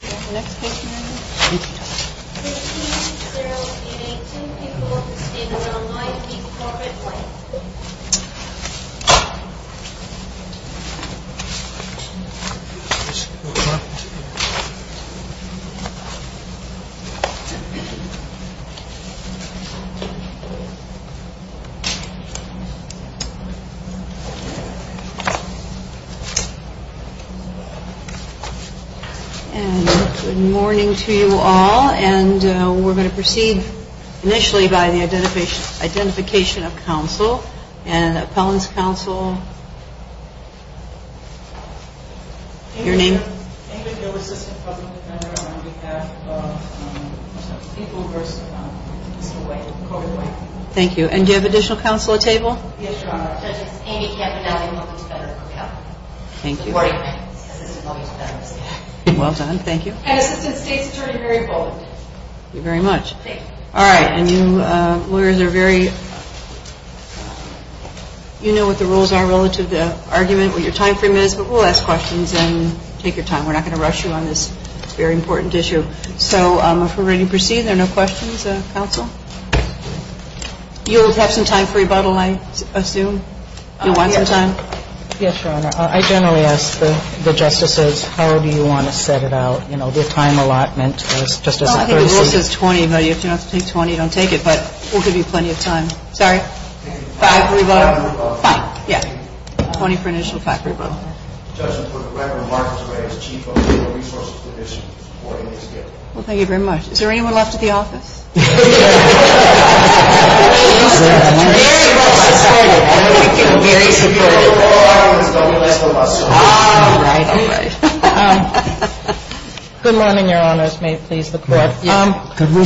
Do we have the next patient in? Thank you all and we're going to proceed initially by the identification of counsel and appellant's counsel. Your name? Thank you. And do you have additional counsel at table? Yes, Your Honor. Thank you. Well done. Thank you. Thank you very much. Thank you. All right. And you lawyers are very, you know what the rules are relative to argument, what your time frame is, but we'll ask questions and take your time. We're not going to rush you on this very important issue. So if we're ready to proceed, are there no questions, counsel? You'll have some time for rebuttal, I assume. Do you want some time? Yes, Your Honor. I generally ask the justices how do you want to set it out, you know, the time allotment just as a courtesy. Well, I think the rule says 20, but if you don't have to take 20, don't take it, but we'll give you plenty of time. Sorry? Five for rebuttal? Five for rebuttal. Fine. Yeah. Twenty for an additional five for rebuttal. The judge will put the record in Marcus' way as chief of legal resources division supporting this case. Well, thank you very much. Is there anyone left at the office? All right. All right. Good morning, Your Honors. May it please the Court. Could we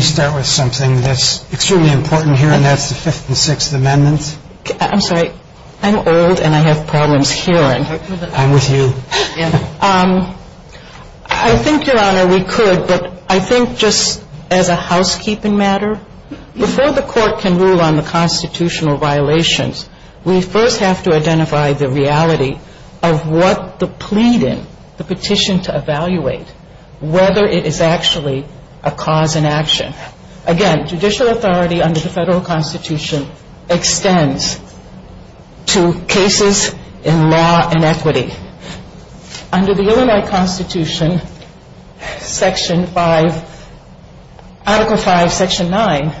start with something that's extremely important here, and that's the Fifth and Sixth Amendments? I'm sorry. I'm old and I have problems hearing. I'm with you. I think, Your Honor, we could, but I think just the fact that we're talking about a case as a housekeeping matter, before the Court can rule on the constitutional violations, we first have to identify the reality of what the pleading, the petition to evaluate, whether it is actually a cause in action. Again, judicial authority under the Federal Constitution extends to cases in law and equity. Under the Illinois Constitution, Section 5, Article 5, Section 9,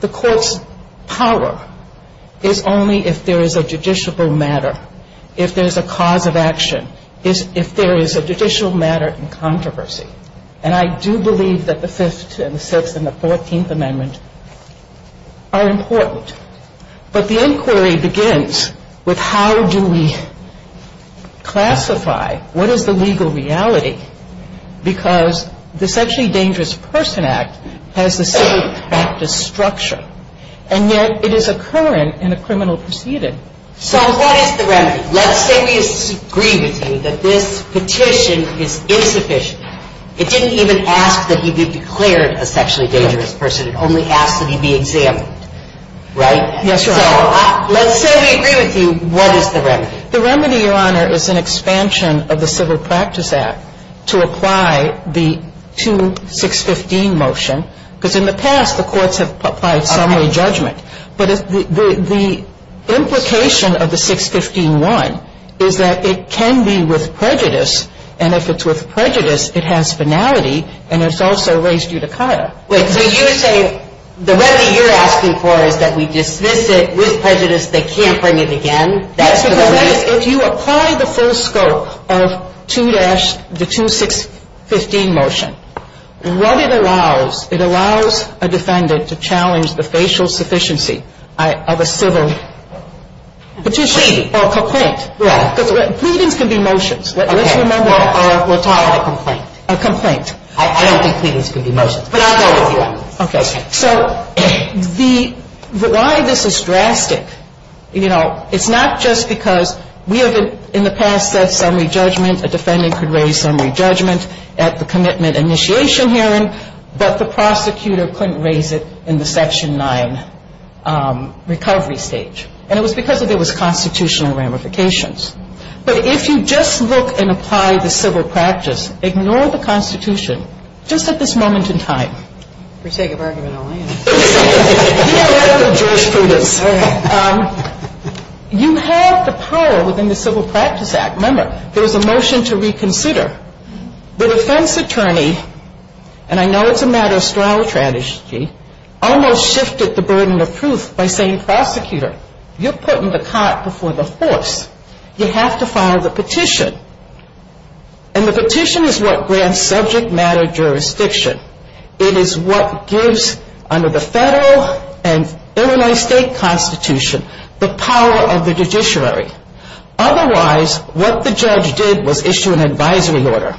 the Court's power is only if there is a judicial matter, if there's a cause of action, if there is a judicial matter in controversy. And I do believe that the Fifth and the Sixth and the Fourteenth Amendments are important. But the inquiry begins with how do we classify what is the legal reality, because the Sexually Dangerous Person Act has the same practice structure, and yet it is a current in a criminal proceeding. So what is the remedy? Let's say we agree with you that this petition is insufficient. It didn't even ask that he be declared a sexually dangerous person. It only asked that he be examined. Right? Yes, Your Honor. So let's say we agree with you. What is the remedy? The remedy, Your Honor, is an expansion of the Civil Practice Act to apply the 2-615 motion, because in the past the courts have applied summary judgment. But the implication of the 615-1 is that it can be with prejudice, and if it's with prejudice, it has finality, and it's also raised judicata. Wait, so you're saying the remedy you're asking for is that we dismiss it with prejudice, they can't bring it again? That's the remedy? Yes, because if you apply the full scope of 2-615 motion, what it allows, it allows a defendant to challenge the facial sufficiency of a civil petition. Pleading. Or a complaint. Right. Because pleadings can be motions. Let's remember that. Okay. Well, we're talking about a complaint. A complaint. I don't think pleadings can be motions. But I'll go with you on this. Okay. So the why this is drastic, you know, it's not just because we have in the past said summary judgment, a defendant could raise summary judgment at the commitment initiation hearing, but the prosecutor couldn't raise it in the Section 9 recovery stage. And it was because there was constitutional ramifications. But if you just look and apply the civil practice, ignore the Constitution, just at this moment in time. For sake of argument only. You know, that's what jurisprudence is. All right. You have the power within the Civil Practice Act. Remember, there was a motion to reconsider. The defense attorney, and I know it's a matter of strategy, almost shifted the burden of proof by saying, prosecutor, you're putting the cart before the horse. You have to file the petition. And the petition is what grants subject matter jurisdiction. It is what gives under the federal and Illinois State Constitution the power of the judiciary. Otherwise, what the judge did was issue an advisory order.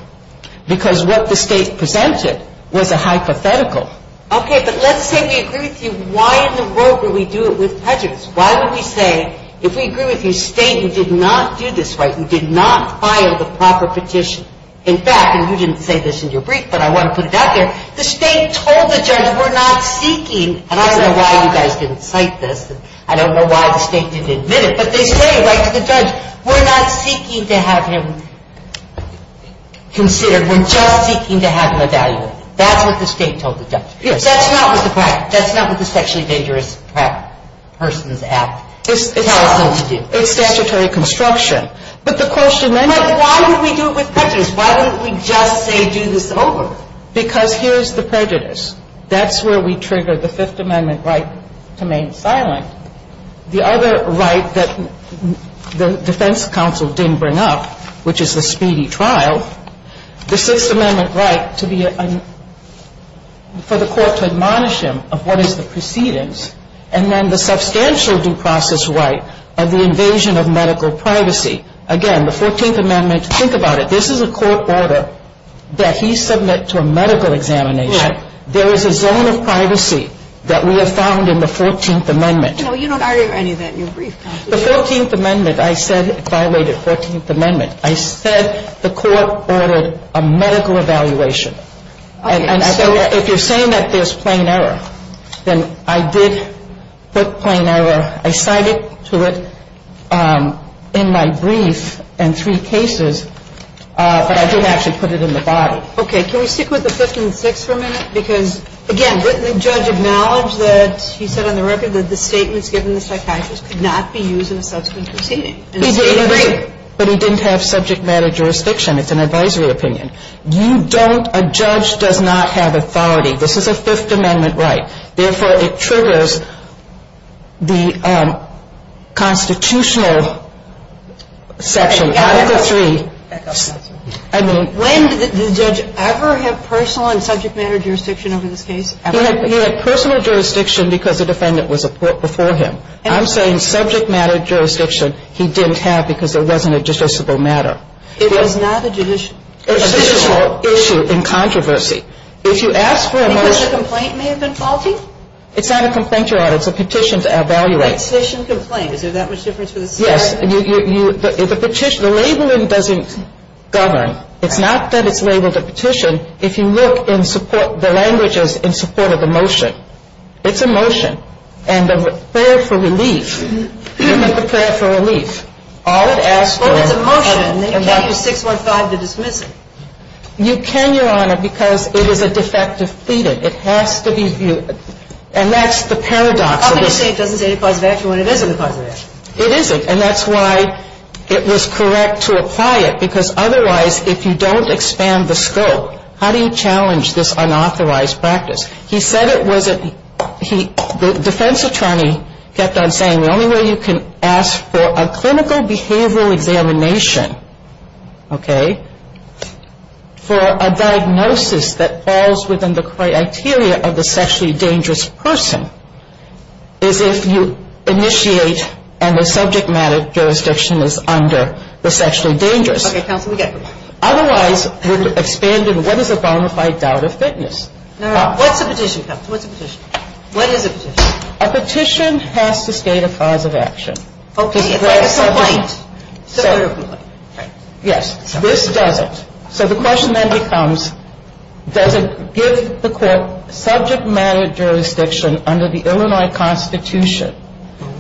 Because what the state presented was a hypothetical. Okay. But let's say we agree with you. Why in the world would we do it with prejudice? Why would we say, if we agree with you, state, you did not do this right. You did not file the proper petition. In fact, and you didn't say this in your brief, but I want to put it out there, the state told the judge, we're not seeking. And I don't know why you guys didn't cite this. I don't know why the state didn't admit it. But they say, right to the judge, we're not seeking to have him considered. We're just seeking to have him evaluated. That's what the state told the judge. That's not what the sexually dangerous persons act tells them to do. It's statutory construction. But the question then is why would we do it with prejudice? Why wouldn't we just say do this over? Because here's the prejudice. That's where we trigger the Fifth Amendment right to remain silent. The other right that the defense counsel didn't bring up, which is the speedy trial, the Sixth Amendment right for the court to admonish him of what is the precedence and then the substantial due process right of the invasion of medical privacy. Again, the Fourteenth Amendment, think about it. This is a court order that he submit to a medical examination. There is a zone of privacy that we have found in the Fourteenth Amendment. No, you don't argue any of that in your brief. The Fourteenth Amendment, I said violated Fourteenth Amendment. I said the court ordered a medical evaluation. And so if you're saying that there's plain error, then I did put plain error. I cited to it in my brief and three cases, but I didn't actually put it in the body. Okay. Can we stick with the Fifth and Sixth for a minute? Because, again, didn't the judge acknowledge that he said on the record that the statements given to the psychiatrist could not be used in a subsequent proceeding? He did, but he didn't have subject matter jurisdiction. It's an advisory opinion. You don't – a judge does not have authority. This is a Fifth Amendment right. Therefore, it triggers the constitutional section, Article III. When did the judge ever have personal and subject matter jurisdiction over this case? He had personal jurisdiction because the defendant was a court before him. I'm saying subject matter jurisdiction he didn't have because it wasn't a judiciable matter. It was not a judicial issue. A judicial issue in controversy. If you ask for a motion – Because the complaint may have been faulty? It's not a complaint, Your Honor. It's a petition to evaluate. A petition complaint. Is there that much difference for the statute? Yes. The petition – the labeling doesn't govern. It's not that it's labeled a petition. If you look in support – the language is in support of the motion. It's a motion. And the prayer for relief – the prayer for relief. All it asks for – Well, it's a motion. You can't use 615 to dismiss it. You can, Your Honor, because it is a defect to feed it. It has to be viewed – and that's the paradox of this. How can you say it doesn't say it's a cause of action when it isn't a cause of action? It isn't. And that's why it was correct to apply it because otherwise, if you don't expand the scope, how do you challenge this unauthorized practice? He said it wasn't – the defense attorney kept on saying, the only way you can ask for a clinical behavioral examination, okay, for a diagnosis that falls within the criteria of the sexually dangerous person, is if you initiate and the subject matter jurisdiction is under the sexually dangerous. Okay, counsel, we get you. Otherwise, what is a bona fide doubt of fitness? What's a petition, counsel? What's a petition? What is a petition? A petition has to state a cause of action. Okay, but a complaint. Yes, this doesn't. So the question then becomes, does it give the court subject matter jurisdiction under the Illinois Constitution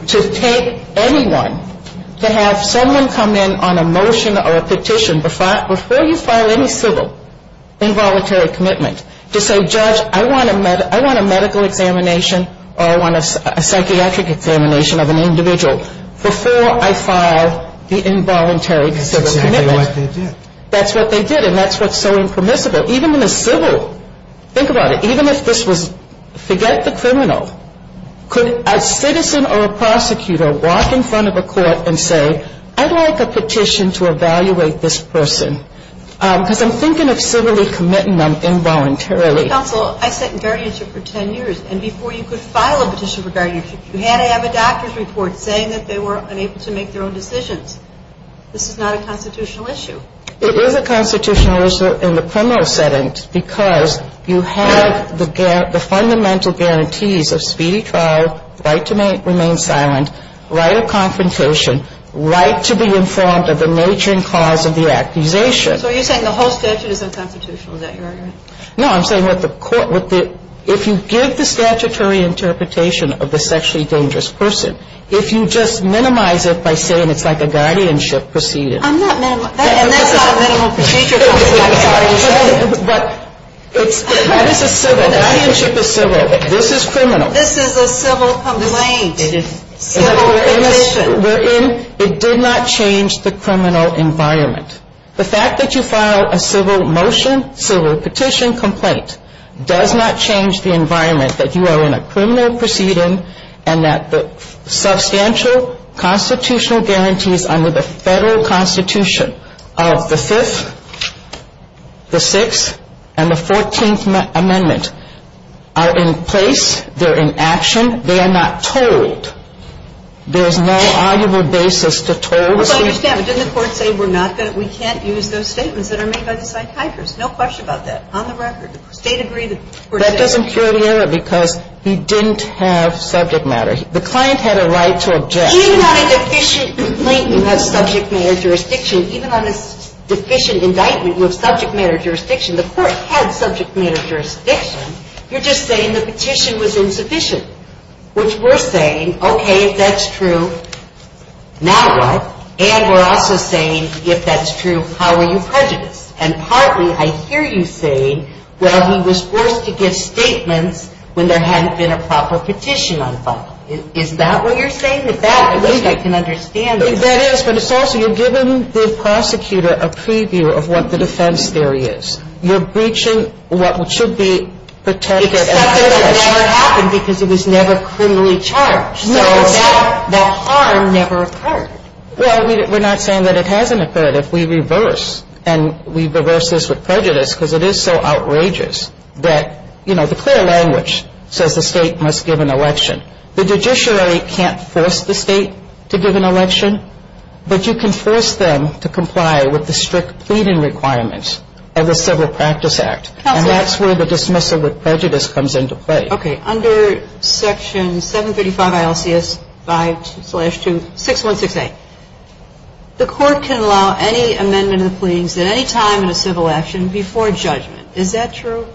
to take anyone to have someone come in on a motion or a petition before you file any civil involuntary commitment to say, Judge, I want a medical examination or I want a psychiatric examination of an individual before I file the involuntary civil commitment? That's exactly what they did. That's what they did. And that's what's so impermissible. Even in a civil – think about it. Even if this was – forget the criminal. Could a citizen or a prosecutor walk in front of a court and say, I'd like a petition to evaluate this person because I'm thinking of civilly committing them involuntarily. Counsel, I sat in guardianship for ten years, and before you could file a petition for guardianship, you had to have a doctor's report saying that they were unable to make their own decisions. This is not a constitutional issue. It is a constitutional issue in the criminal setting because you have the fundamental guarantees of speedy trial, right to remain silent, right of confrontation, right to be informed of the nature and cause of the accusation. So you're saying the whole statute is unconstitutional. Is that your argument? No, I'm saying what the court – if you give the statutory interpretation of the sexually dangerous person, if you just minimize it by saying it's like a guardianship procedure. I'm not minimizing – And that's not a minimal procedure, counsel. I'm sorry. But this is civil. Guardianship is civil. This is criminal. This is a civil complaint. Civil petition. It did not change the criminal environment. The fact that you filed a civil motion, civil petition complaint, does not change the environment that you are in a criminal proceeding and that the substantial constitutional guarantees under the federal constitution of the Fifth, the Sixth, and the Fourteenth Amendment are in place. They're in action. They are not told. There is no arguable basis to told. Well, I understand. But didn't the court say we're not going to – we can't use those statements that are made by the psychiatrists? No question about that. On the record, the State agreed that the court said – That doesn't cure the error because he didn't have subject matter. The client had a right to object. Even on a deficient complaint, you have subject matter jurisdiction. Even on a deficient indictment, you have subject matter jurisdiction. The court had subject matter jurisdiction. You're just saying the petition was insufficient, which we're saying, okay, if that's true, now what? And we're also saying, if that's true, how are you prejudiced? And partly, I hear you saying, well, he was forced to give statements when there hadn't been a proper petition on file. Is that what you're saying? If that, at least I can understand it. That is, but it's also you're giving the prosecutor a preview of what the defense theory is. You're breaching what should be protected. Except that that never happened because it was never criminally charged. So the harm never occurred. Well, we're not saying that it hasn't occurred. If we reverse, and we reverse this with prejudice because it is so outrageous that, you know, the clear language says the State must give an election. The judiciary can't force the State to give an election, but you can force them to comply with the strict pleading requirements of the Civil Practice Act. And that's where the dismissal with prejudice comes into play. Okay. Under Section 735 ILCS 5-2-6168, the court can allow any amendment of the pleadings at any time in a civil action before judgment. Is that true?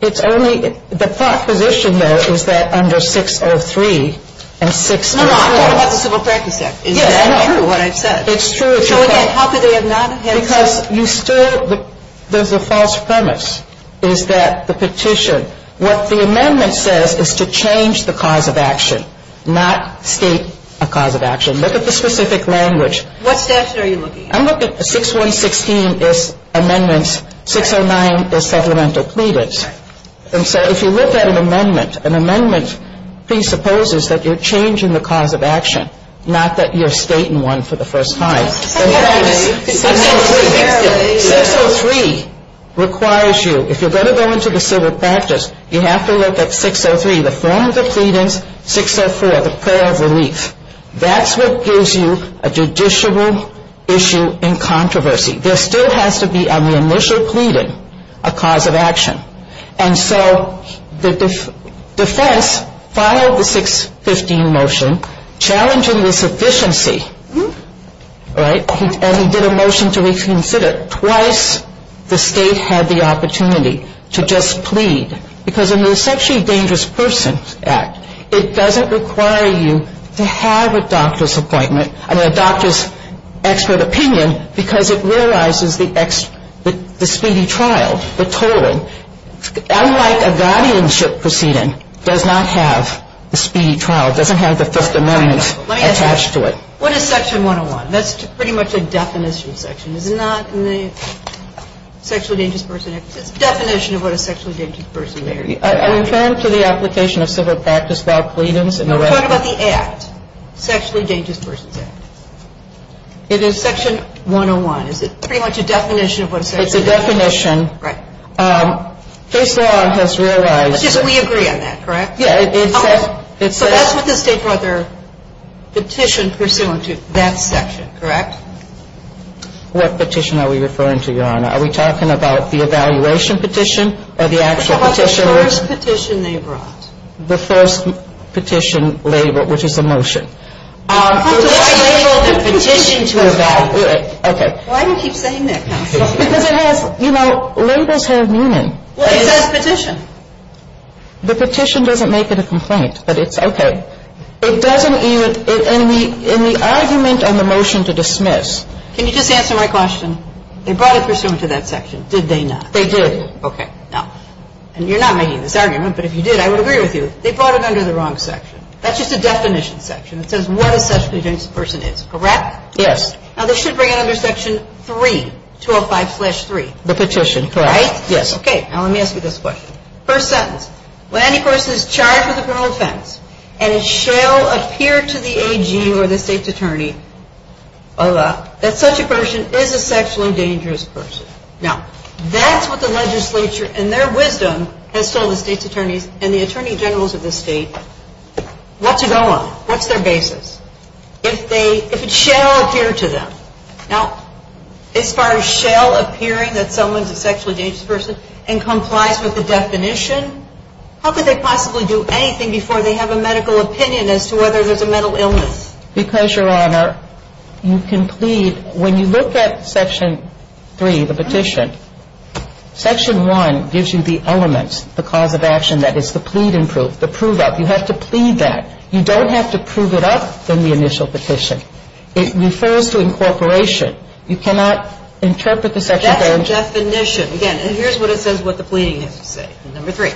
It's only the proposition, though, is that under 603 and 6- No, no, I'm talking about the Civil Practice Act. Is that true, what I've said? It's true. So, again, how could they have not had- Because you still, there's a false premise, is that the petition, what the amendment says is to change the cause of action, not state a cause of action. Look at the specific language. What statute are you looking at? I'm looking at 6-1-16 is amendments, 6-0-9 is supplemental pleadings. And so if you look at an amendment, an amendment presupposes that you're changing the cause of action, not that you're stating one for the first time. 6-0-3 requires you, if you're going to go into the civil practice, you have to look at 6-0-3, the form of the pleadings, 6-0-4, the prayer of relief. That's what gives you a judicial issue in controversy. There still has to be on the initial pleading a cause of action. And so the defense filed the 6-15 motion challenging this efficiency, right? And he did a motion to reconsider. Twice the state had the opportunity to just plead, because in the Essentially Dangerous Persons Act, it doesn't require you to have a doctor's appointment, I mean a doctor's expert opinion, because it realizes the speedy trial, the tolling. Unlike a guardianship proceeding, it does not have the speedy trial. It doesn't have the Fifth Amendment attached to it. Let me ask you, what is Section 101? That's pretty much a definition section. Is it not in the Sexually Dangerous Persons Act? It's a definition of what a sexually dangerous person may or may not be. I'm referring to the application of civil practice law pleadings. No, we're talking about the Act, Sexually Dangerous Persons Act. It is Section 101. Is it pretty much a definition of what a sexually dangerous person may or may not be? It's a definition. Right. Case law has realized. We agree on that, correct? Yeah. So that's what the state brought their petition pursuant to, that section, correct? What petition are we referring to, Your Honor? Are we talking about the evaluation petition or the actual petition? What's the first petition they brought? The first petition labeled, which is a motion. The first petition labeled a petition to evaluate. Okay. Why do you keep saying that, counsel? Because it has, you know, labels have meaning. Well, it says petition. The petition doesn't make it a complaint, but it's, okay. It doesn't even, in the argument on the motion to dismiss. Can you just answer my question? They brought it pursuant to that section, did they not? They did. Okay. Now, and you're not making this argument, but if you did, I would agree with you. They brought it under the wrong section. That's just a definition section. It says what a sexually dangerous person is, correct? Yes. Now, this should bring it under Section 3, 205-3. The petition, correct. Right? Yes. Okay. Now, let me ask you this question. First sentence, when any person is charged with a criminal offense, and it shall appear to the AG or the state's attorney that such a person is a sexually dangerous person. Now, that's what the legislature, in their wisdom, has told the state's attorneys and the attorney generals of the state what to go on. What's their basis? If they, if it shall appear to them. Now, as far as shall appearing that someone's a sexually dangerous person and complies with the definition, how could they possibly do anything before they have a medical opinion as to whether there's a mental illness? Because, Your Honor, you can plead, when you look at Section 3, the petition, Section 1 gives you the elements, the cause of action, that is, the pleading proof, the prove up. You have to plead that. You don't have to prove it up in the initial petition. It refers to incorporation. You cannot interpret the Section 3. That's the definition. Again, and here's what it says, what the pleading has to say. Number 3.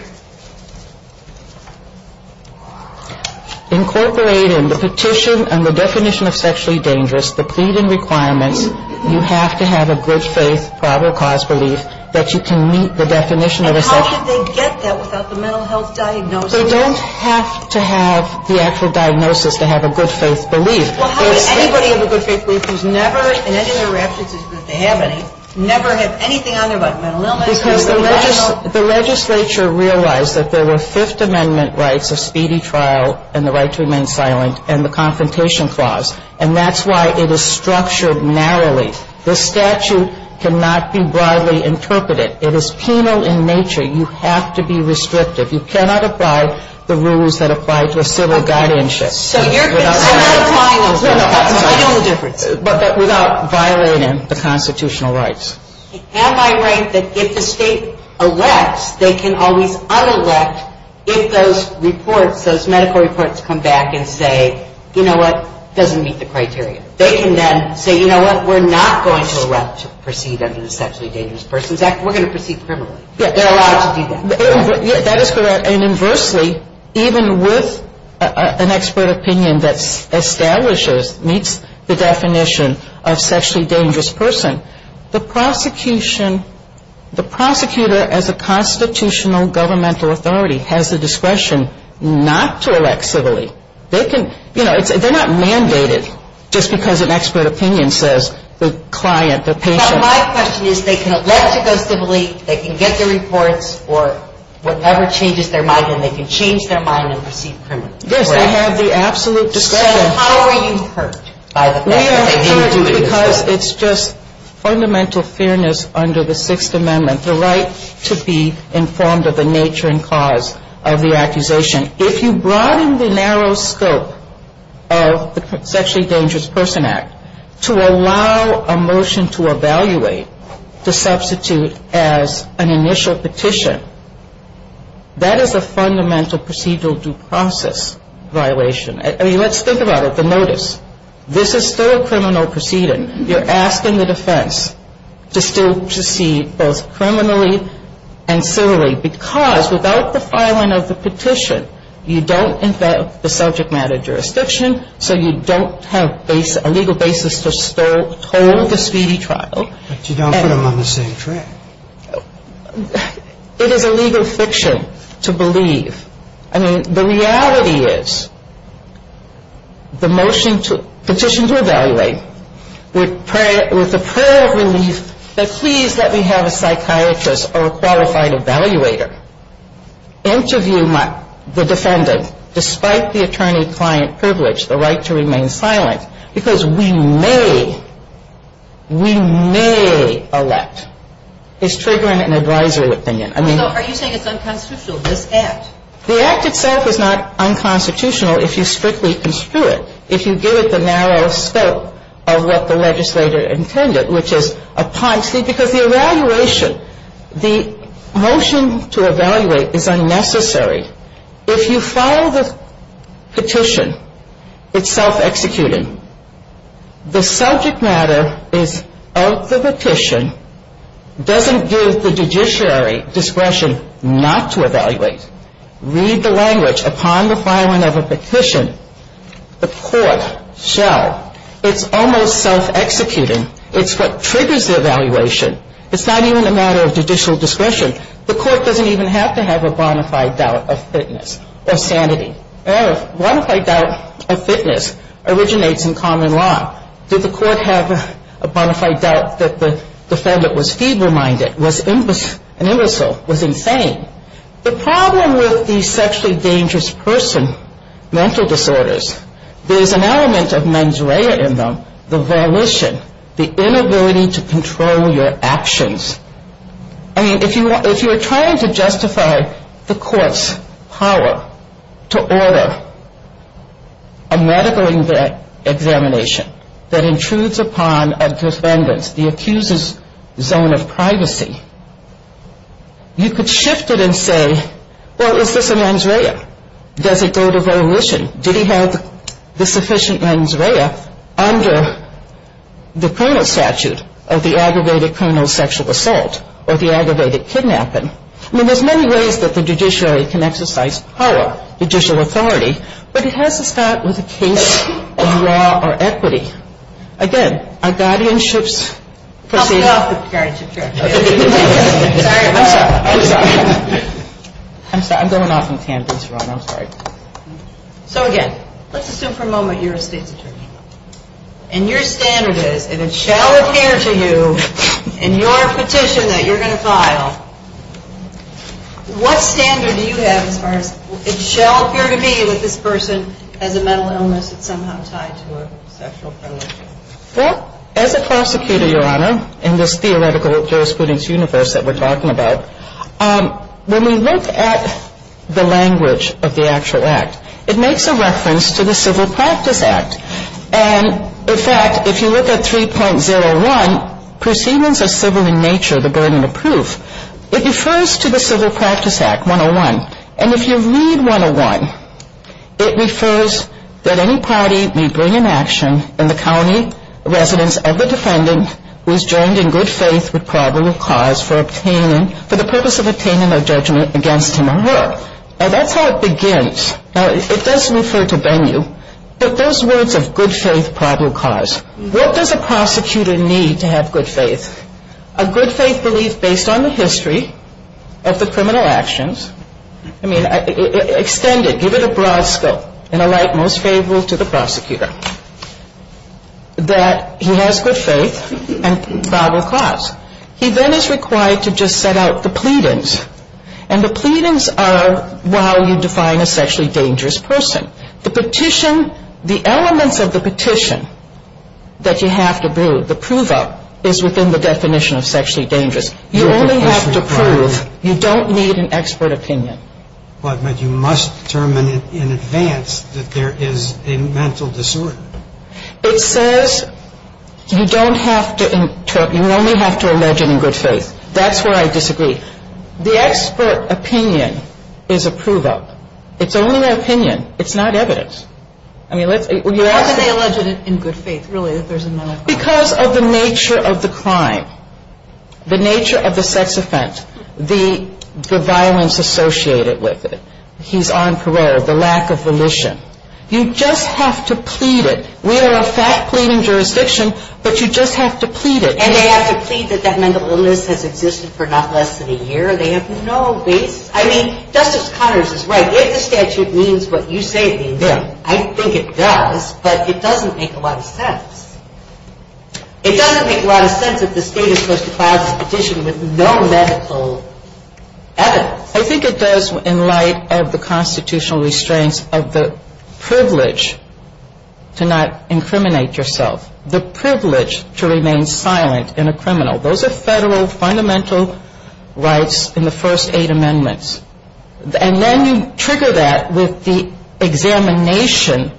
Incorporating the petition and the definition of sexually dangerous, the pleading requirements, you have to have a good faith, probable cause belief that you can meet the definition of a sexually dangerous person. And how could they get that without the mental health diagnosis? They don't have to have the actual diagnosis to have a good faith belief. Well, how could anybody have a good faith belief who's never, in any of their raptures, if they have any, never have anything on their body, mental illness. Because the legislature realized that there were Fifth Amendment rights of speedy trial and the right to remain silent and the Confrontation Clause. And that's why it is structured narrowly. This statute cannot be broadly interpreted. It is penal in nature. You have to be restrictive. You cannot apply the rules that apply to a civil guardianship. So you're not applying them. No, no. I know the difference. But without violating the constitutional rights. Am I right that if the state elects, they can always unelect if those reports, those medical reports come back and say, you know what, doesn't meet the criteria. They can then say, you know what, we're not going to elect to proceed under the sexually dangerous persons act. We're going to proceed criminally. They're allowed to do that. That is correct. And inversely, even with an expert opinion that establishes, meets the definition of sexually dangerous person, the prosecution, the prosecutor as a constitutional governmental authority has the discretion not to elect civilly. They can, you know, they're not mandated just because an expert opinion says the client, the patient. So my question is they can elect to go civilly, they can get their reports or whatever changes their mind, and they can change their mind and proceed criminally. Yes, I have the absolute discretion. So how are you hurt by the fact that they didn't do this? Because it's just fundamental fairness under the sixth amendment, the right to be informed of the nature and cause of the accusation. If you broaden the narrow scope of the sexually dangerous person act to allow a motion to evaluate, to substitute as an initial petition, that is a fundamental procedural due process violation. I mean let's think about it. You have a notice. This is still a criminal proceeding. You're asking the defense to still proceed both criminally and civilly because without the filing of the petition, you don't invent the subject matter jurisdiction, so you don't have a legal basis to hold a speedy trial. But you don't put them on the same track. It is a legal fiction to believe. I mean the reality is the motion to petition to evaluate with the prayer of relief that please let me have a psychiatrist or a qualified evaluator interview the defendant despite the attorney-client privilege, the right to remain silent, because we may, we may elect. It's triggering an advisory opinion. So are you saying it's unconstitutional, this act? The act itself is not unconstitutional if you strictly construe it, if you give it the narrow scope of what the legislator intended, which is upon, because the evaluation, the motion to evaluate is unnecessary. If you file the petition, it's self-executing. The subject matter is of the petition, doesn't give the judiciary discretion not to evaluate. Read the language. Upon the filing of a petition, the court shall. It's almost self-executing. It's what triggers the evaluation. It's not even a matter of judicial discretion. The court doesn't even have to have a bona fide doubt of fitness or sanity. A bona fide doubt of fitness originates in common law. Did the court have a bona fide doubt that the defendant was feeble-minded, was an imbecile, was insane? The problem with these sexually dangerous person mental disorders, there's an element of mens rea in them, the volition, the inability to control your actions. I mean, if you are trying to justify the court's power to order a medical examination that intrudes upon a defendant's, the accuser's, zone of privacy, you could shift it and say, well, is this a mens rea? Does it go to volition? Did he have the sufficient mens rea under the criminal statute of the aggravated criminal sexual assault or the aggravated kidnapping? I mean, there's many ways that the judiciary can exercise power, judicial authority, but it has to start with a case of law or equity. Again, our guardianships proceed. I'm sorry. I'm going off on a tangent, Your Honor. I'm sorry. So again, let's assume for a moment you're a state's attorney, and your standard is, and it shall appear to you in your petition that you're going to file, what standard do you have as far as it shall appear to be that this person has a mental illness that's somehow tied to a sexual premonition? Well, as a prosecutor, Your Honor, in this theoretical jurisprudence universe that we're talking about, when we look at the language of the actual act, it makes a reference to the Civil Practice Act. And, in fact, if you look at 3.01, Proceedings of Civil in Nature, the Burden of Proof, it refers to the Civil Practice Act, 101. And if you read 101, it refers that any party may bring an action in the county residence of the defendant who is joined in good faith with probable cause for obtaining, for the purpose of obtaining a judgment against him or her. Now, that's how it begins. Now, it does refer to venue, but those words of good faith, probable cause, what does a prosecutor need to have good faith? A good faith belief based on the history of the criminal actions. I mean, extend it, give it a broad scope, in a light most favorable to the prosecutor, that he has good faith and probable cause. He then is required to just set out the pleadings, and the pleadings are while you define a sexually dangerous person. The petition, the elements of the petition that you have to do, the prove-up, is within the definition of sexually dangerous. You only have to prove, you don't need an expert opinion. But you must determine in advance that there is a mental disorder. It says you don't have to, you only have to allege it in good faith. That's where I disagree. The expert opinion is a prove-up. It's only an opinion. It's not evidence. How can they allege it in good faith, really, that there's a mental disorder? Because of the nature of the crime, the nature of the sex offense, the violence associated with it. He's on parole, the lack of volition. You just have to plead it. We are a fact-pleading jurisdiction, but you just have to plead it. And they have to plead that that mental illness has existed for not less than a year. They have no basis. I mean, Justice Connors is right. If the statute means what you say it means, I think it does, but it doesn't make a lot of sense. It doesn't make a lot of sense that the State is supposed to file this petition with no medical evidence. I think it does in light of the constitutional restraints of the privilege to not incriminate yourself, the privilege to remain silent in a criminal. Those are federal fundamental rights in the first eight amendments. And then you trigger that with the examination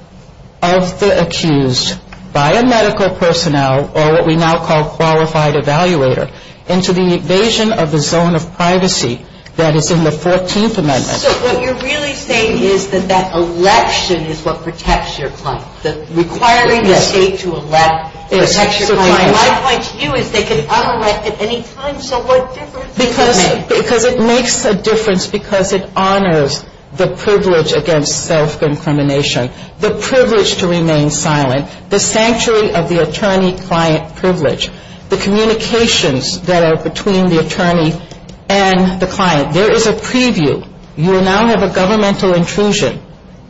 of the accused by a medical personnel, or what we now call qualified evaluator, into the invasion of the zone of privacy that is in the 14th amendment. So what you're really saying is that that election is what protects your client, requiring the State to elect protects your client. My point to you is they can honor that at any time, so what difference does it make? Because it makes a difference because it honors the privilege against self-incrimination, the privilege to remain silent, the sanctuary of the attorney-client privilege, the communications that are between the attorney and the client. There is a preview. You now have a governmental intrusion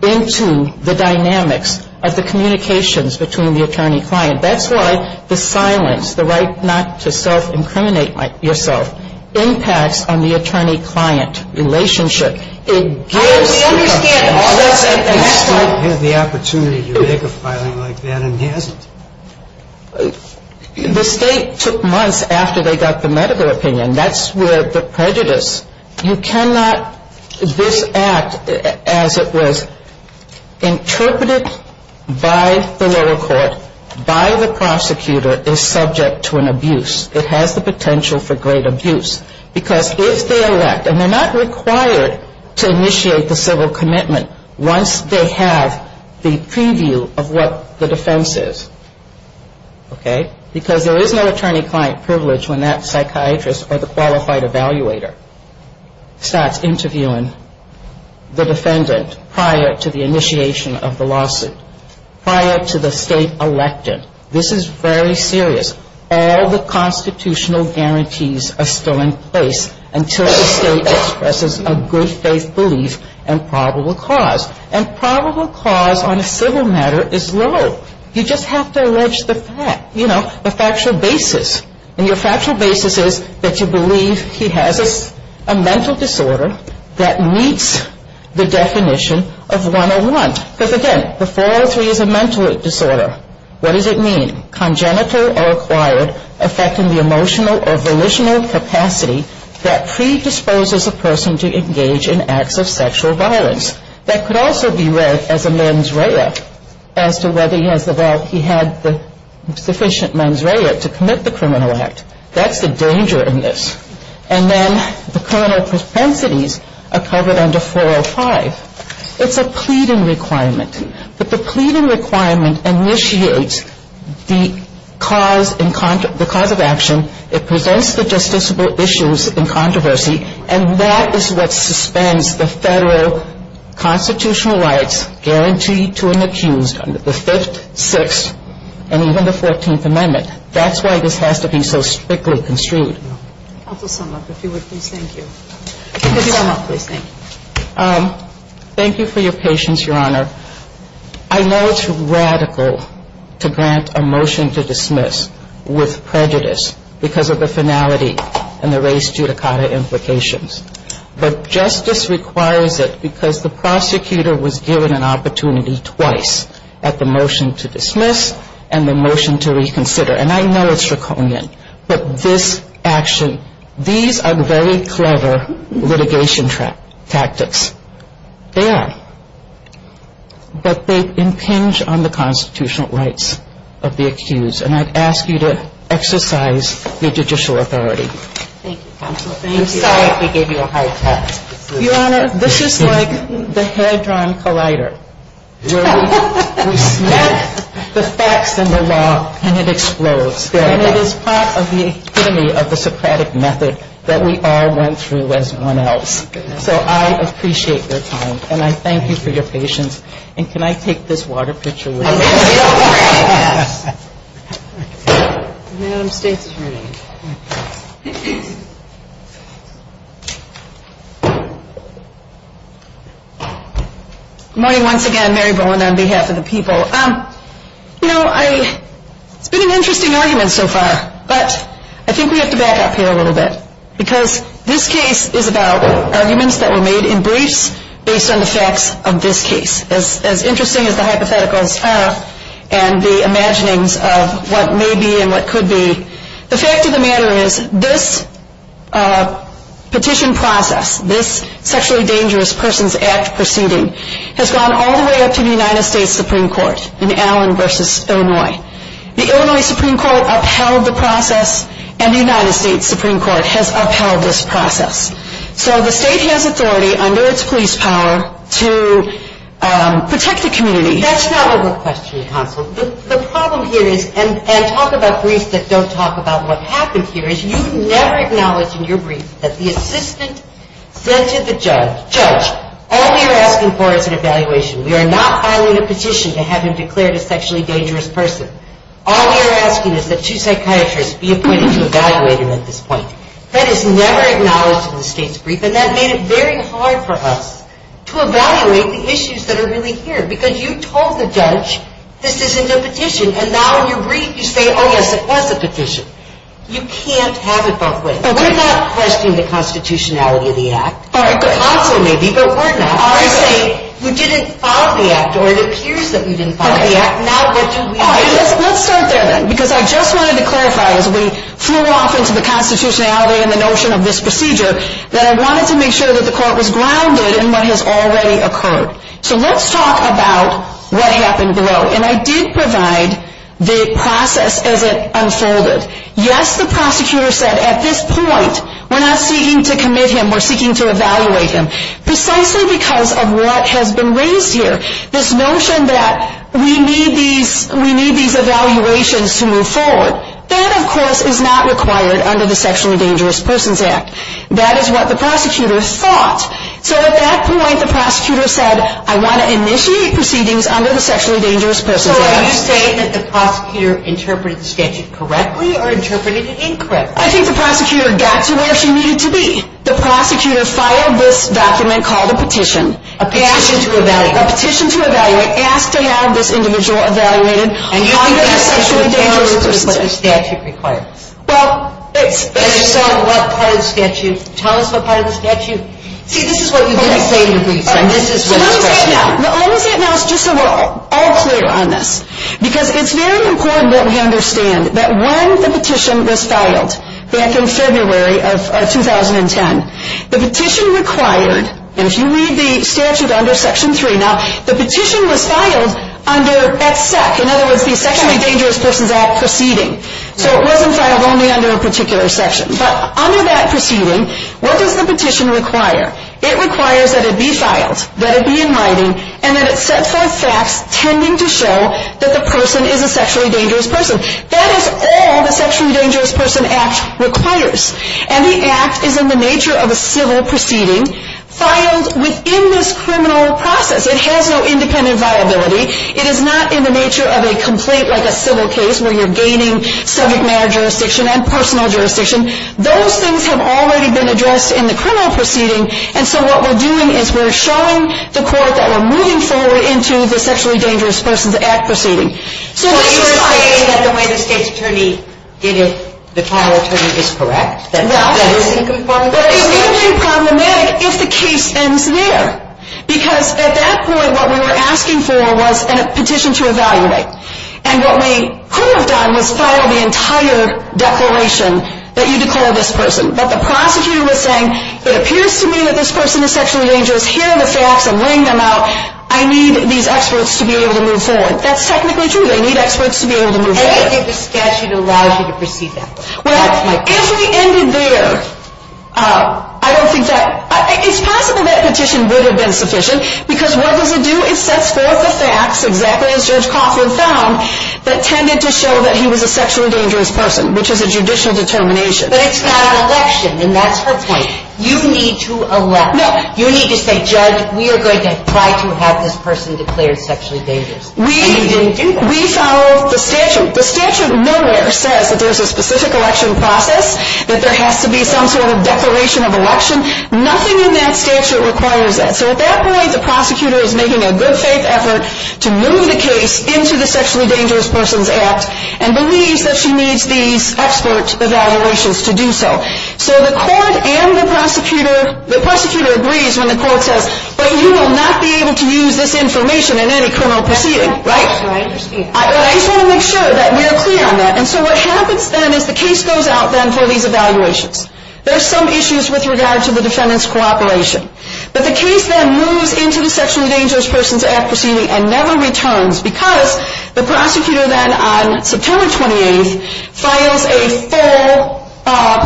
into the dynamics of the communications between the attorney-client. That's why the silence, the right not to self-incriminate yourself impacts on the attorney-client relationship. It gives the client the opportunity to make a filing like that, and it hasn't. The State took months after they got the medical opinion. That's where the prejudice. You cannot, this act as it was interpreted by the lower court, by the prosecutor, is subject to an abuse. It has the potential for great abuse. Because if they elect, and they're not required to initiate the civil commitment once they have the preview of what the defense is, okay? Because there is no attorney-client privilege when that psychiatrist or the qualified evaluator starts interviewing the defendant prior to the initiation of the lawsuit, prior to the State electing. This is very serious. All the constitutional guarantees are still in place until the State expresses a good faith belief and probable cause. And probable cause on a civil matter is low. You just have to allege the fact, you know, the factual basis. And your factual basis is that you believe he has a mental disorder that meets the definition of 101. But again, the 403 is a mental disorder. What does it mean? Congenital or acquired, affecting the emotional or volitional capacity that predisposes a person to engage in acts of sexual violence. That could also be read as a mens rea, as to whether he has the, well, he had the sufficient mens rea to commit the criminal act. That's the danger in this. And then the criminal propensities are covered under 405. It's a pleading requirement. But the pleading requirement initiates the cause in, the cause of action. It presents the justiciable issues in controversy. And that is what suspends the Federal constitutional rights guaranteed to an accused under the 5th, 6th, and even the 14th Amendment. That's why this has to be so strictly construed. Counsel Sumlock, if you would please thank you. Thank you for your patience, Your Honor. I know it's radical to grant a motion to dismiss with prejudice because of the finality and the race judicata implications. But justice requires it because the prosecutor was given an opportunity twice at the motion to dismiss and the motion to reconsider. And I know it's draconian. But this action, these are very clever litigation tactics. They are. But they impinge on the constitutional rights of the accused. And I'd ask you to exercise your judicial authority. Thank you, Counsel. I'm sorry if we gave you a hard time. Your Honor, this is like the Hadron Collider where we snap the facts and the law and it explodes. And it is part of the epitome of the Socratic method that we all went through as one else. So I appreciate your time. And I thank you for your patience. And can I take this water pitcher with me? Yes. Good morning once again. Mary Bowen on behalf of the people. You know, it's been an interesting argument so far. But I think we have to back up here a little bit. Because this case is about arguments that were made in briefs based on the facts of this case. As interesting as the hypotheticals are and the imaginings of what may be and what could be, the fact of the matter is this petition process, this Sexually Dangerous Persons Act proceeding, has gone all the way up to the United States Supreme Court in Allen v. Illinois. The Illinois Supreme Court upheld the process and the United States Supreme Court has upheld this process. So the state has authority under its police power to protect the community. That's not what we're questioning, counsel. The problem here is, and talk about briefs that don't talk about what happened here, is you never acknowledge in your brief that the assistant said to the judge, Judge, all we are asking for is an evaluation. We are not filing a petition to have him declared a sexually dangerous person. All we are asking is that two psychiatrists be appointed to evaluate him at this point. That is never acknowledged in the state's brief. And that made it very hard for us to evaluate the issues that are really here. Because you told the judge, this isn't a petition. And now in your brief you say, oh, yes, it was a petition. You can't have it both ways. We're not questioning the constitutionality of the act. Counsel may be, but we're not. We didn't file the act, or it appears that we didn't file the act. Now what do we do? Let's start there then. Because I just wanted to clarify as we flew off into the constitutionality and the notion of this procedure that I wanted to make sure that the court was grounded in what has already occurred. So let's talk about what happened below. And I did provide the process as it unfolded. Yes, the prosecutor said at this point we're not seeking to commit him. We're seeking to evaluate him precisely because of what has been raised here, this notion that we need these evaluations to move forward. That, of course, is not required under the Sexually Dangerous Persons Act. That is what the prosecutor thought. So at that point the prosecutor said I want to initiate proceedings under the Sexually Dangerous Persons Act. So are you saying that the prosecutor interpreted the statute correctly or interpreted it incorrectly? I think the prosecutor got to where she needed to be. The prosecutor filed this document called a petition. A petition to evaluate. A petition to evaluate, asked to have this individual evaluated on behalf of a sexually dangerous person. And you think that's what the statute requires? Well, it's... And you saw what part of the statute. Tell us what part of the statute. See, this is what you didn't say in your briefs. All right. So let me say it now. Let me say it now just so we're all clear on this. Because it's very important that we understand that when the petition was filed back in February of 2010, the petition required, and if you read the statute under Section 3, now the petition was filed under that SEC. In other words, the Sexually Dangerous Persons Act proceeding. So it wasn't filed only under a particular section. But under that proceeding, what does the petition require? It requires that it be filed, that it be in writing, and that it set forth facts tending to show that the person is a sexually dangerous person. That is all the Sexually Dangerous Persons Act requires. And the act is in the nature of a civil proceeding filed within this criminal process. It has no independent viability. It is not in the nature of a complaint like a civil case where you're gaining subject matter jurisdiction and personal jurisdiction. Those things have already been addressed in the criminal proceeding. And so what we're doing is we're showing the court that we're moving forward into the Sexually Dangerous Persons Act proceeding. So are you saying that the way the state's attorney did it, the trial attorney, is correct? No, but it would be problematic if the case ends there. Because at that point, what we were asking for was a petition to evaluate. And what we could have done was filed the entire declaration that you declare this person. But the prosecutor was saying, it appears to me that this person is sexually dangerous. Here are the facts. I'm laying them out. I need these experts to be able to move forward. That's technically true. They need experts to be able to move forward. And if the statute allows you to proceed that way. Well, if we ended there, I don't think that – it's possible that petition would have been sufficient. Because what does it do? It sets forth the facts, exactly as Judge Coughlin found, that tended to show that he was a sexually dangerous person, which is a judicial determination. But it's not an election, and that's her point. You need to elect. No. You need to say, Judge, we are going to try to have this person declared sexually dangerous. We follow the statute. The statute nowhere says that there's a specific election process, that there has to be some sort of declaration of election. Nothing in that statute requires that. So at that point, the prosecutor is making a good faith effort to move the case into the Sexually Dangerous Persons Act and believes that she needs these expert evaluations to do so. So the court and the prosecutor – the prosecutor agrees when the court says, but you will not be able to use this information in any criminal proceeding. Right. I just want to make sure that we are clear on that. And so what happens then is the case goes out then for these evaluations. There are some issues with regard to the defendant's cooperation. But the case then moves into the Sexually Dangerous Persons Act proceeding and never returns because the prosecutor then, on September 28th, files a full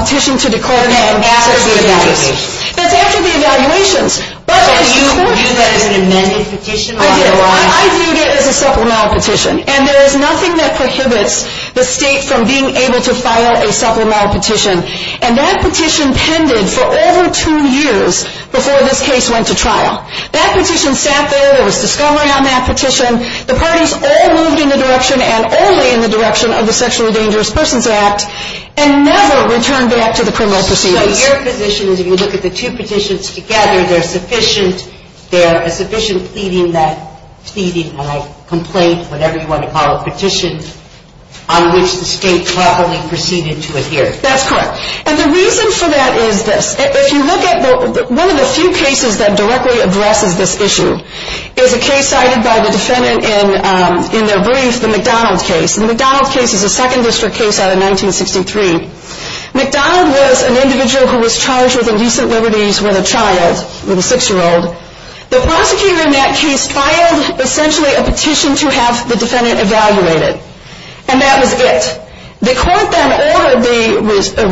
petition to the court. And after the evaluations. That's after the evaluations. So you view that as an amended petition? I viewed it as a supplemental petition. And there is nothing that prohibits the state from being able to file a supplemental petition. And that petition pended for over two years before this case went to trial. That petition sat there. There was discovery on that petition. The parties all moved in the direction and only in the direction of the Sexually Dangerous Persons Act and never returned back to the criminal proceedings. So your position is if you look at the two petitions together, there is sufficient pleading, and I complain, whatever you want to call it, petition on which the state properly proceeded to adhere. That's correct. And the reason for that is this. If you look at one of the few cases that directly addresses this issue is a case cited by the defendant in their brief, the McDonald case. The McDonald case is a Second District case out of 1963. McDonald was an individual who was charged with indecent liberties with a child, with a six-year-old. The prosecutor in that case filed essentially a petition to have the defendant evaluated. And that was it. The court then ordered the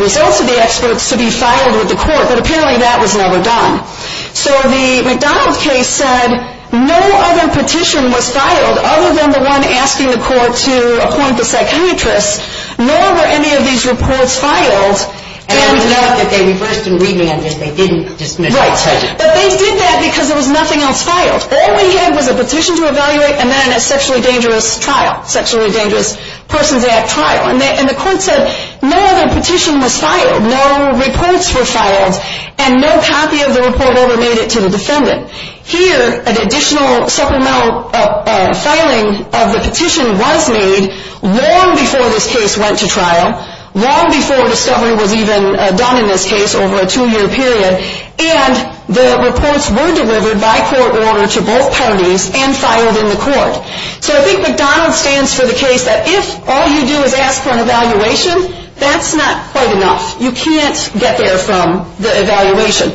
results of the experts to be filed with the court, but apparently that was never done. So the McDonald case said no other petition was filed other than the one asking the court to appoint the psychiatrist, nor were any of these reports filed. And we know that they reversed and revamped it. They didn't dismiss it. Right. But they did that because there was nothing else filed. All we had was a petition to evaluate and then a sexually dangerous trial, sexually dangerous persons at trial. And the court said no other petition was filed, no reports were filed, and no copy of the report ever made it to the defendant. Here, an additional supplemental filing of the petition was made long before this case went to trial, long before discovery was even done in this case over a two-year period, and the reports were delivered by court order to both parties and filed in the court. So I think McDonald stands for the case that if all you do is ask for an evaluation, that's not quite enough. You can't get there from the evaluation.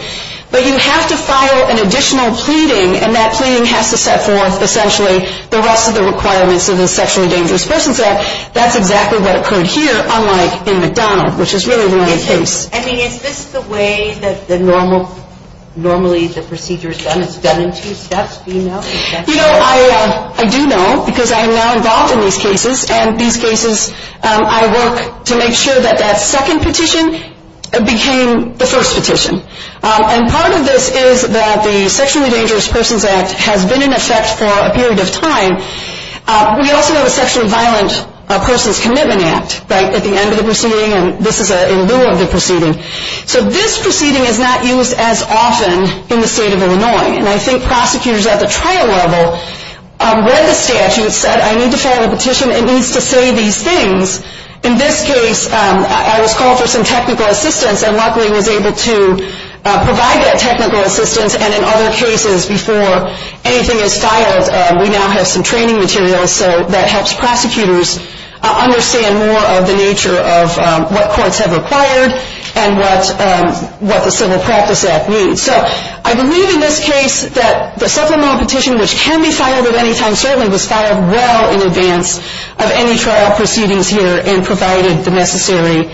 But you have to file an additional pleading, and that pleading has to set forth, essentially, the rest of the requirements of the Sexually Dangerous Persons Act. That's exactly what occurred here, unlike in McDonald, which is really the case. I mean, is this the way that normally the procedure is done? It's done in two steps, do you know? You know, I do know, because I am now involved in these cases, and these cases I work to make sure that that second petition became the first petition. And part of this is that the Sexually Dangerous Persons Act has been in effect for a period of time. We also have a Sexually Violent Persons Commitment Act at the end of the proceeding, and this is in lieu of the proceeding. So this proceeding is not used as often in the state of Illinois, and I think prosecutors at the trial level read the statute, said, I need to file a petition, it needs to say these things. In this case, I was called for some technical assistance, and luckily was able to provide that technical assistance, and in other cases, before anything is filed, we now have some training material that helps prosecutors understand more of the nature of what courts have required and what the Civil Practice Act means. So I believe in this case that the supplemental petition, which can be filed at any time, certainly was filed well in advance of any trial proceedings here and provided the necessary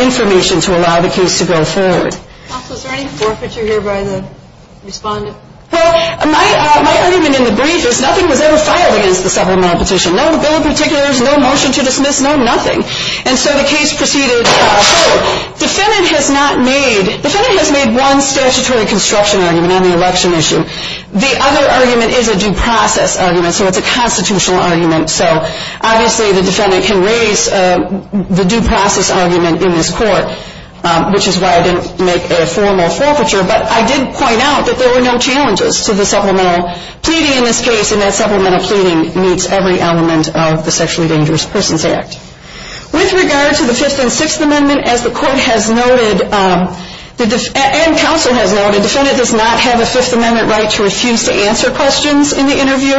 information to allow the case to go forward. Also, is there any forfeiture here by the respondent? Well, my argument in the brief is nothing was ever filed against the supplemental petition. No bill of particulars, no motion to dismiss, no nothing. And so the case proceeded forward. Defendant has not made, defendant has made one statutory construction argument on the election issue. The other argument is a due process argument, so it's a constitutional argument. So obviously the defendant can raise the due process argument in this court, which is why I didn't make a formal forfeiture, but I did point out that there were no challenges to the supplemental pleading in this case, and that supplemental pleading meets every element of the Sexually Dangerous Persons Act. With regard to the Fifth and Sixth Amendment, as the court has noted, and counsel has noted, defendant does not have a Fifth Amendment right to refuse to answer questions in the interview.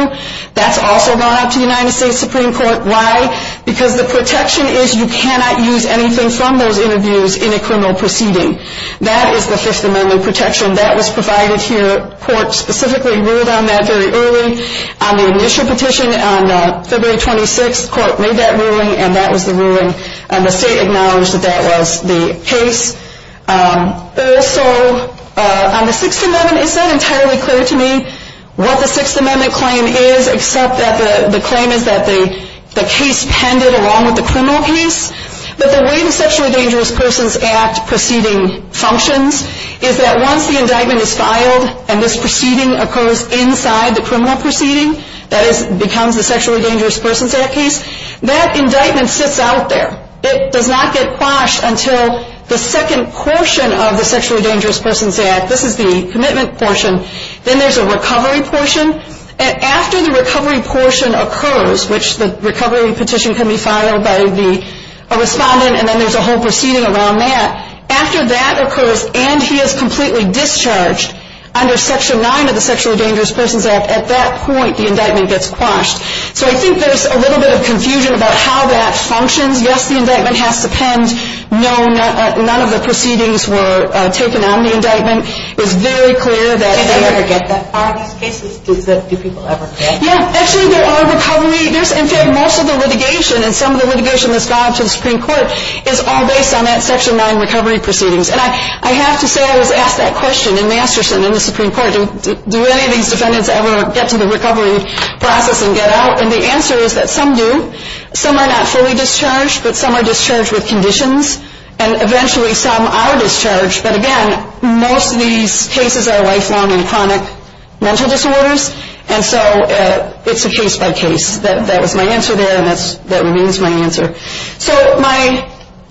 That's also gone out to the United States Supreme Court. Why? Because the protection is you cannot use anything from those interviews in a criminal proceeding. That is the Fifth Amendment protection that was provided here. Court specifically ruled on that very early. On the initial petition on February 26, court made that ruling, and that was the ruling, and the state acknowledged that that was the case. Also, on the Sixth Amendment, it's not entirely clear to me what the Sixth Amendment claim is, except that the claim is that the case pended along with the criminal case. But the way the Sexually Dangerous Persons Act proceeding functions is that once the indictment is filed and this proceeding occurs inside the criminal proceeding, that becomes the Sexually Dangerous Persons Act case, that indictment sits out there. It does not get quashed until the second portion of the Sexually Dangerous Persons Act, this is the commitment portion, then there's a recovery portion, and after the recovery portion occurs, which the recovery petition can be filed by the respondent and then there's a whole proceeding around that, after that occurs and he is completely discharged under Section 9 of the Sexually Dangerous Persons Act, at that point the indictment gets quashed. So I think there's a little bit of confusion about how that functions. Yes, the indictment has to pend. No, none of the proceedings were taken on the indictment. Do they ever get that far in these cases? Do people ever get that far? Yes, actually there are recovery, in fact most of the litigation and some of the litigation that's gone up to the Supreme Court is all based on that Section 9 recovery proceedings. And I have to say I was asked that question in Masterson in the Supreme Court, do any of these defendants ever get to the recovery process and get out? And the answer is that some do. Some are not fully discharged but some are discharged with conditions and eventually some are discharged. But again, most of these cases are lifelong and chronic mental disorders and so it's a case by case. That was my answer there and that remains my answer. So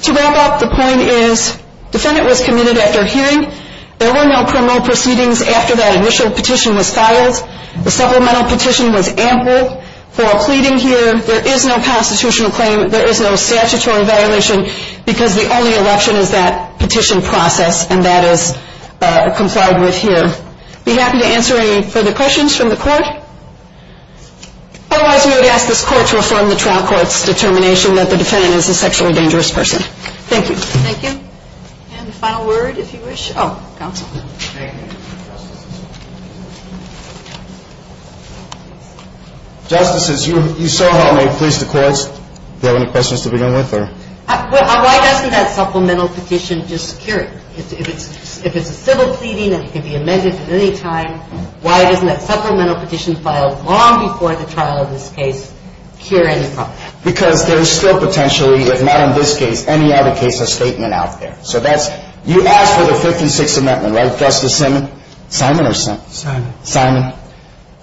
to wrap up, the point is defendant was committed after hearing. There were no criminal proceedings after that initial petition was filed. The supplemental petition was ample for a pleading here. There is no constitutional claim. There is no statutory violation because the only election is that petition process and that is complied with here. I'd be happy to answer any further questions from the court. Otherwise we would ask this court to affirm the trial court's determination that the defendant is a sexually dangerous person. Thank you. Thank you. And the final word if you wish. Oh, counsel. Thank you. Justices, you saw how I pleased the courts. Do you have any questions to begin with? Why doesn't that supplemental petition just cure it? If it's a civil pleading and it can be amended at any time, why doesn't that supplemental petition filed long before the trial of this case cure any problem? Because there is still potentially, if not in this case, any other case or statement out there. You asked for the Fifth and Sixth Amendments, right, Justice Simon? Simon or something? Simon. Simon.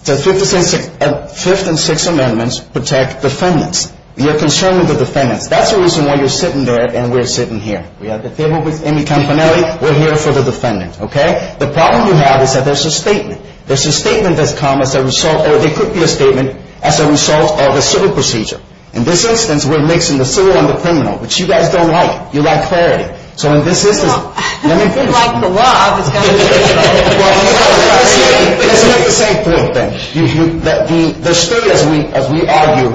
The Fifth and Sixth Amendments protect defendants. You're concerned with the defendants. That's the reason why you're sitting there and we're sitting here. We have the table with Amy Campanelli. We're here for the defendant. The problem you have is that there's a statement. There's a statement that's come as a result, or there could be a statement, as a result of a civil procedure. In this instance, we're mixing the civil and the criminal, which you guys don't like. You like clarity. So in this instance, let me finish. Well, if you like the law, it's got to be the same. Well, it's not the same. It's not the same thing. The state, as we argue,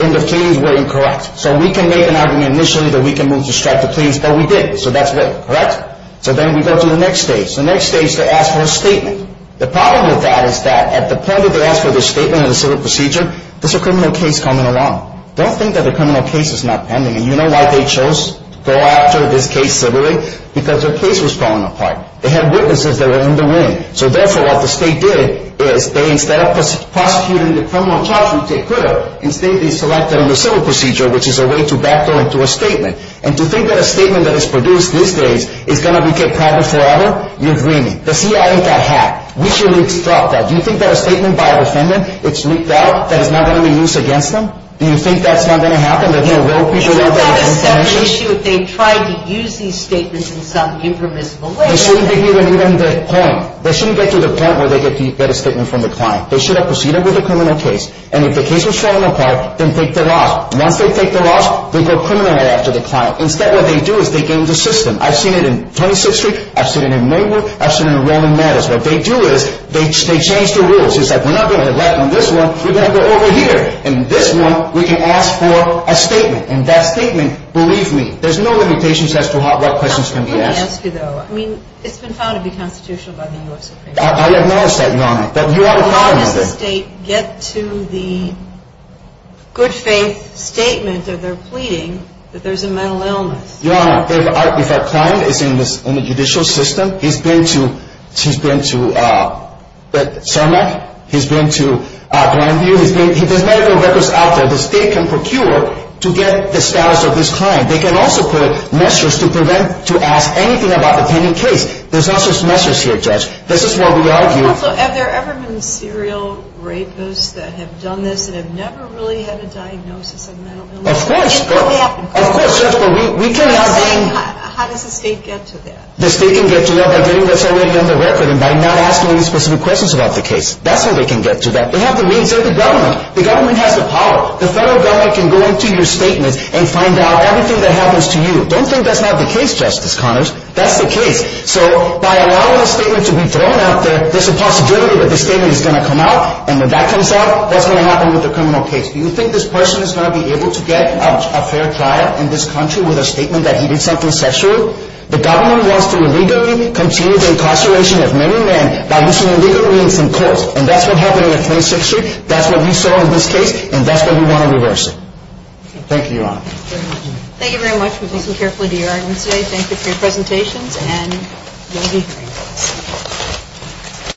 in the pleadings were incorrect. So we can make an argument initially that we can move to strike the pleadings, but we didn't. So that's it, correct? So then we go to the next stage. The next stage, they ask for a statement. The problem with that is that at the point that they ask for the statement and the civil procedure, there's a criminal case coming along. Don't think that the criminal case is not pending. You know why they chose to go after this case civilly? Because their case was falling apart. They had witnesses that were in the room. So therefore, what the state did is they, instead of prosecuting the criminal charge, which they could have, instead they selected on the civil procedure, which is a way to back them into a statement. And to think that a statement that is produced these days is going to be kept private forever, you're dreaming. The CIA ain't that hack. We shouldn't instruct that. Do you think that a statement by a defendant, it's leaked out, that it's not going to be used against them? Do you think that's not going to happen? That no real people want that information? Isn't that a separate issue if they tried to use these statements in some impermissible way? This shouldn't be even the point. They shouldn't get to the point where they get a statement from the client. They should have proceeded with the criminal case. And if the case was falling apart, then take the law. Once they take the laws, they go criminal after the client. Instead, what they do is they game the system. I've seen it in 26th Street. I've seen it in Maywood. I've seen it in Roman Mattis. What they do is they change the rules. It's like, we're not going to let on this one. We're going to go over here. And this one, we can ask for a statement. And that statement, believe me, there's no limitations as to what questions can be asked. Let me ask you, though. I mean, it's been found to be constitutional by the U.S. Supreme Court. I acknowledge that, Your Honor. But how does the state get to the good faith statement that they're pleading that there's a mental illness? Your Honor, if our client is in the judicial system, he's been to Sermak. He's been to Grandview. He's been to Grandview. There's medical records out there the state can procure to get the status of this client. They can also put measures to prevent, to ask anything about the pending case. There's not just measures here, Judge. This is what we argue. Also, have there ever been serial rapists that have done this and have never really had a diagnosis of mental illness? Of course. It could happen. Of course. How does the state get to that? The state can get to that by getting what's already on the record and by not asking any specific questions about the case. That's how they can get to that. They have the means. They're the government. The government has the power. The federal government can go into your statements and find out everything that happens to you. Don't think that's not the case, Justice Connors. That's the case. So by allowing a statement to be thrown out there, there's a possibility that the statement is going to come out. And when that comes out, what's going to happen with the criminal case? Do you think this person is going to be able to get a fair trial in this country with a statement that he did something sexual? The government wants to illegally continue the incarceration of many men by using illegal means in court. And that's what happened in the 26th Street. That's what we saw in this case, and that's what we want to reverse. Thank you, Your Honor. Thank you very much. We listened carefully to your arguments today. Thank you for your presentations, and we'll be hearing from you.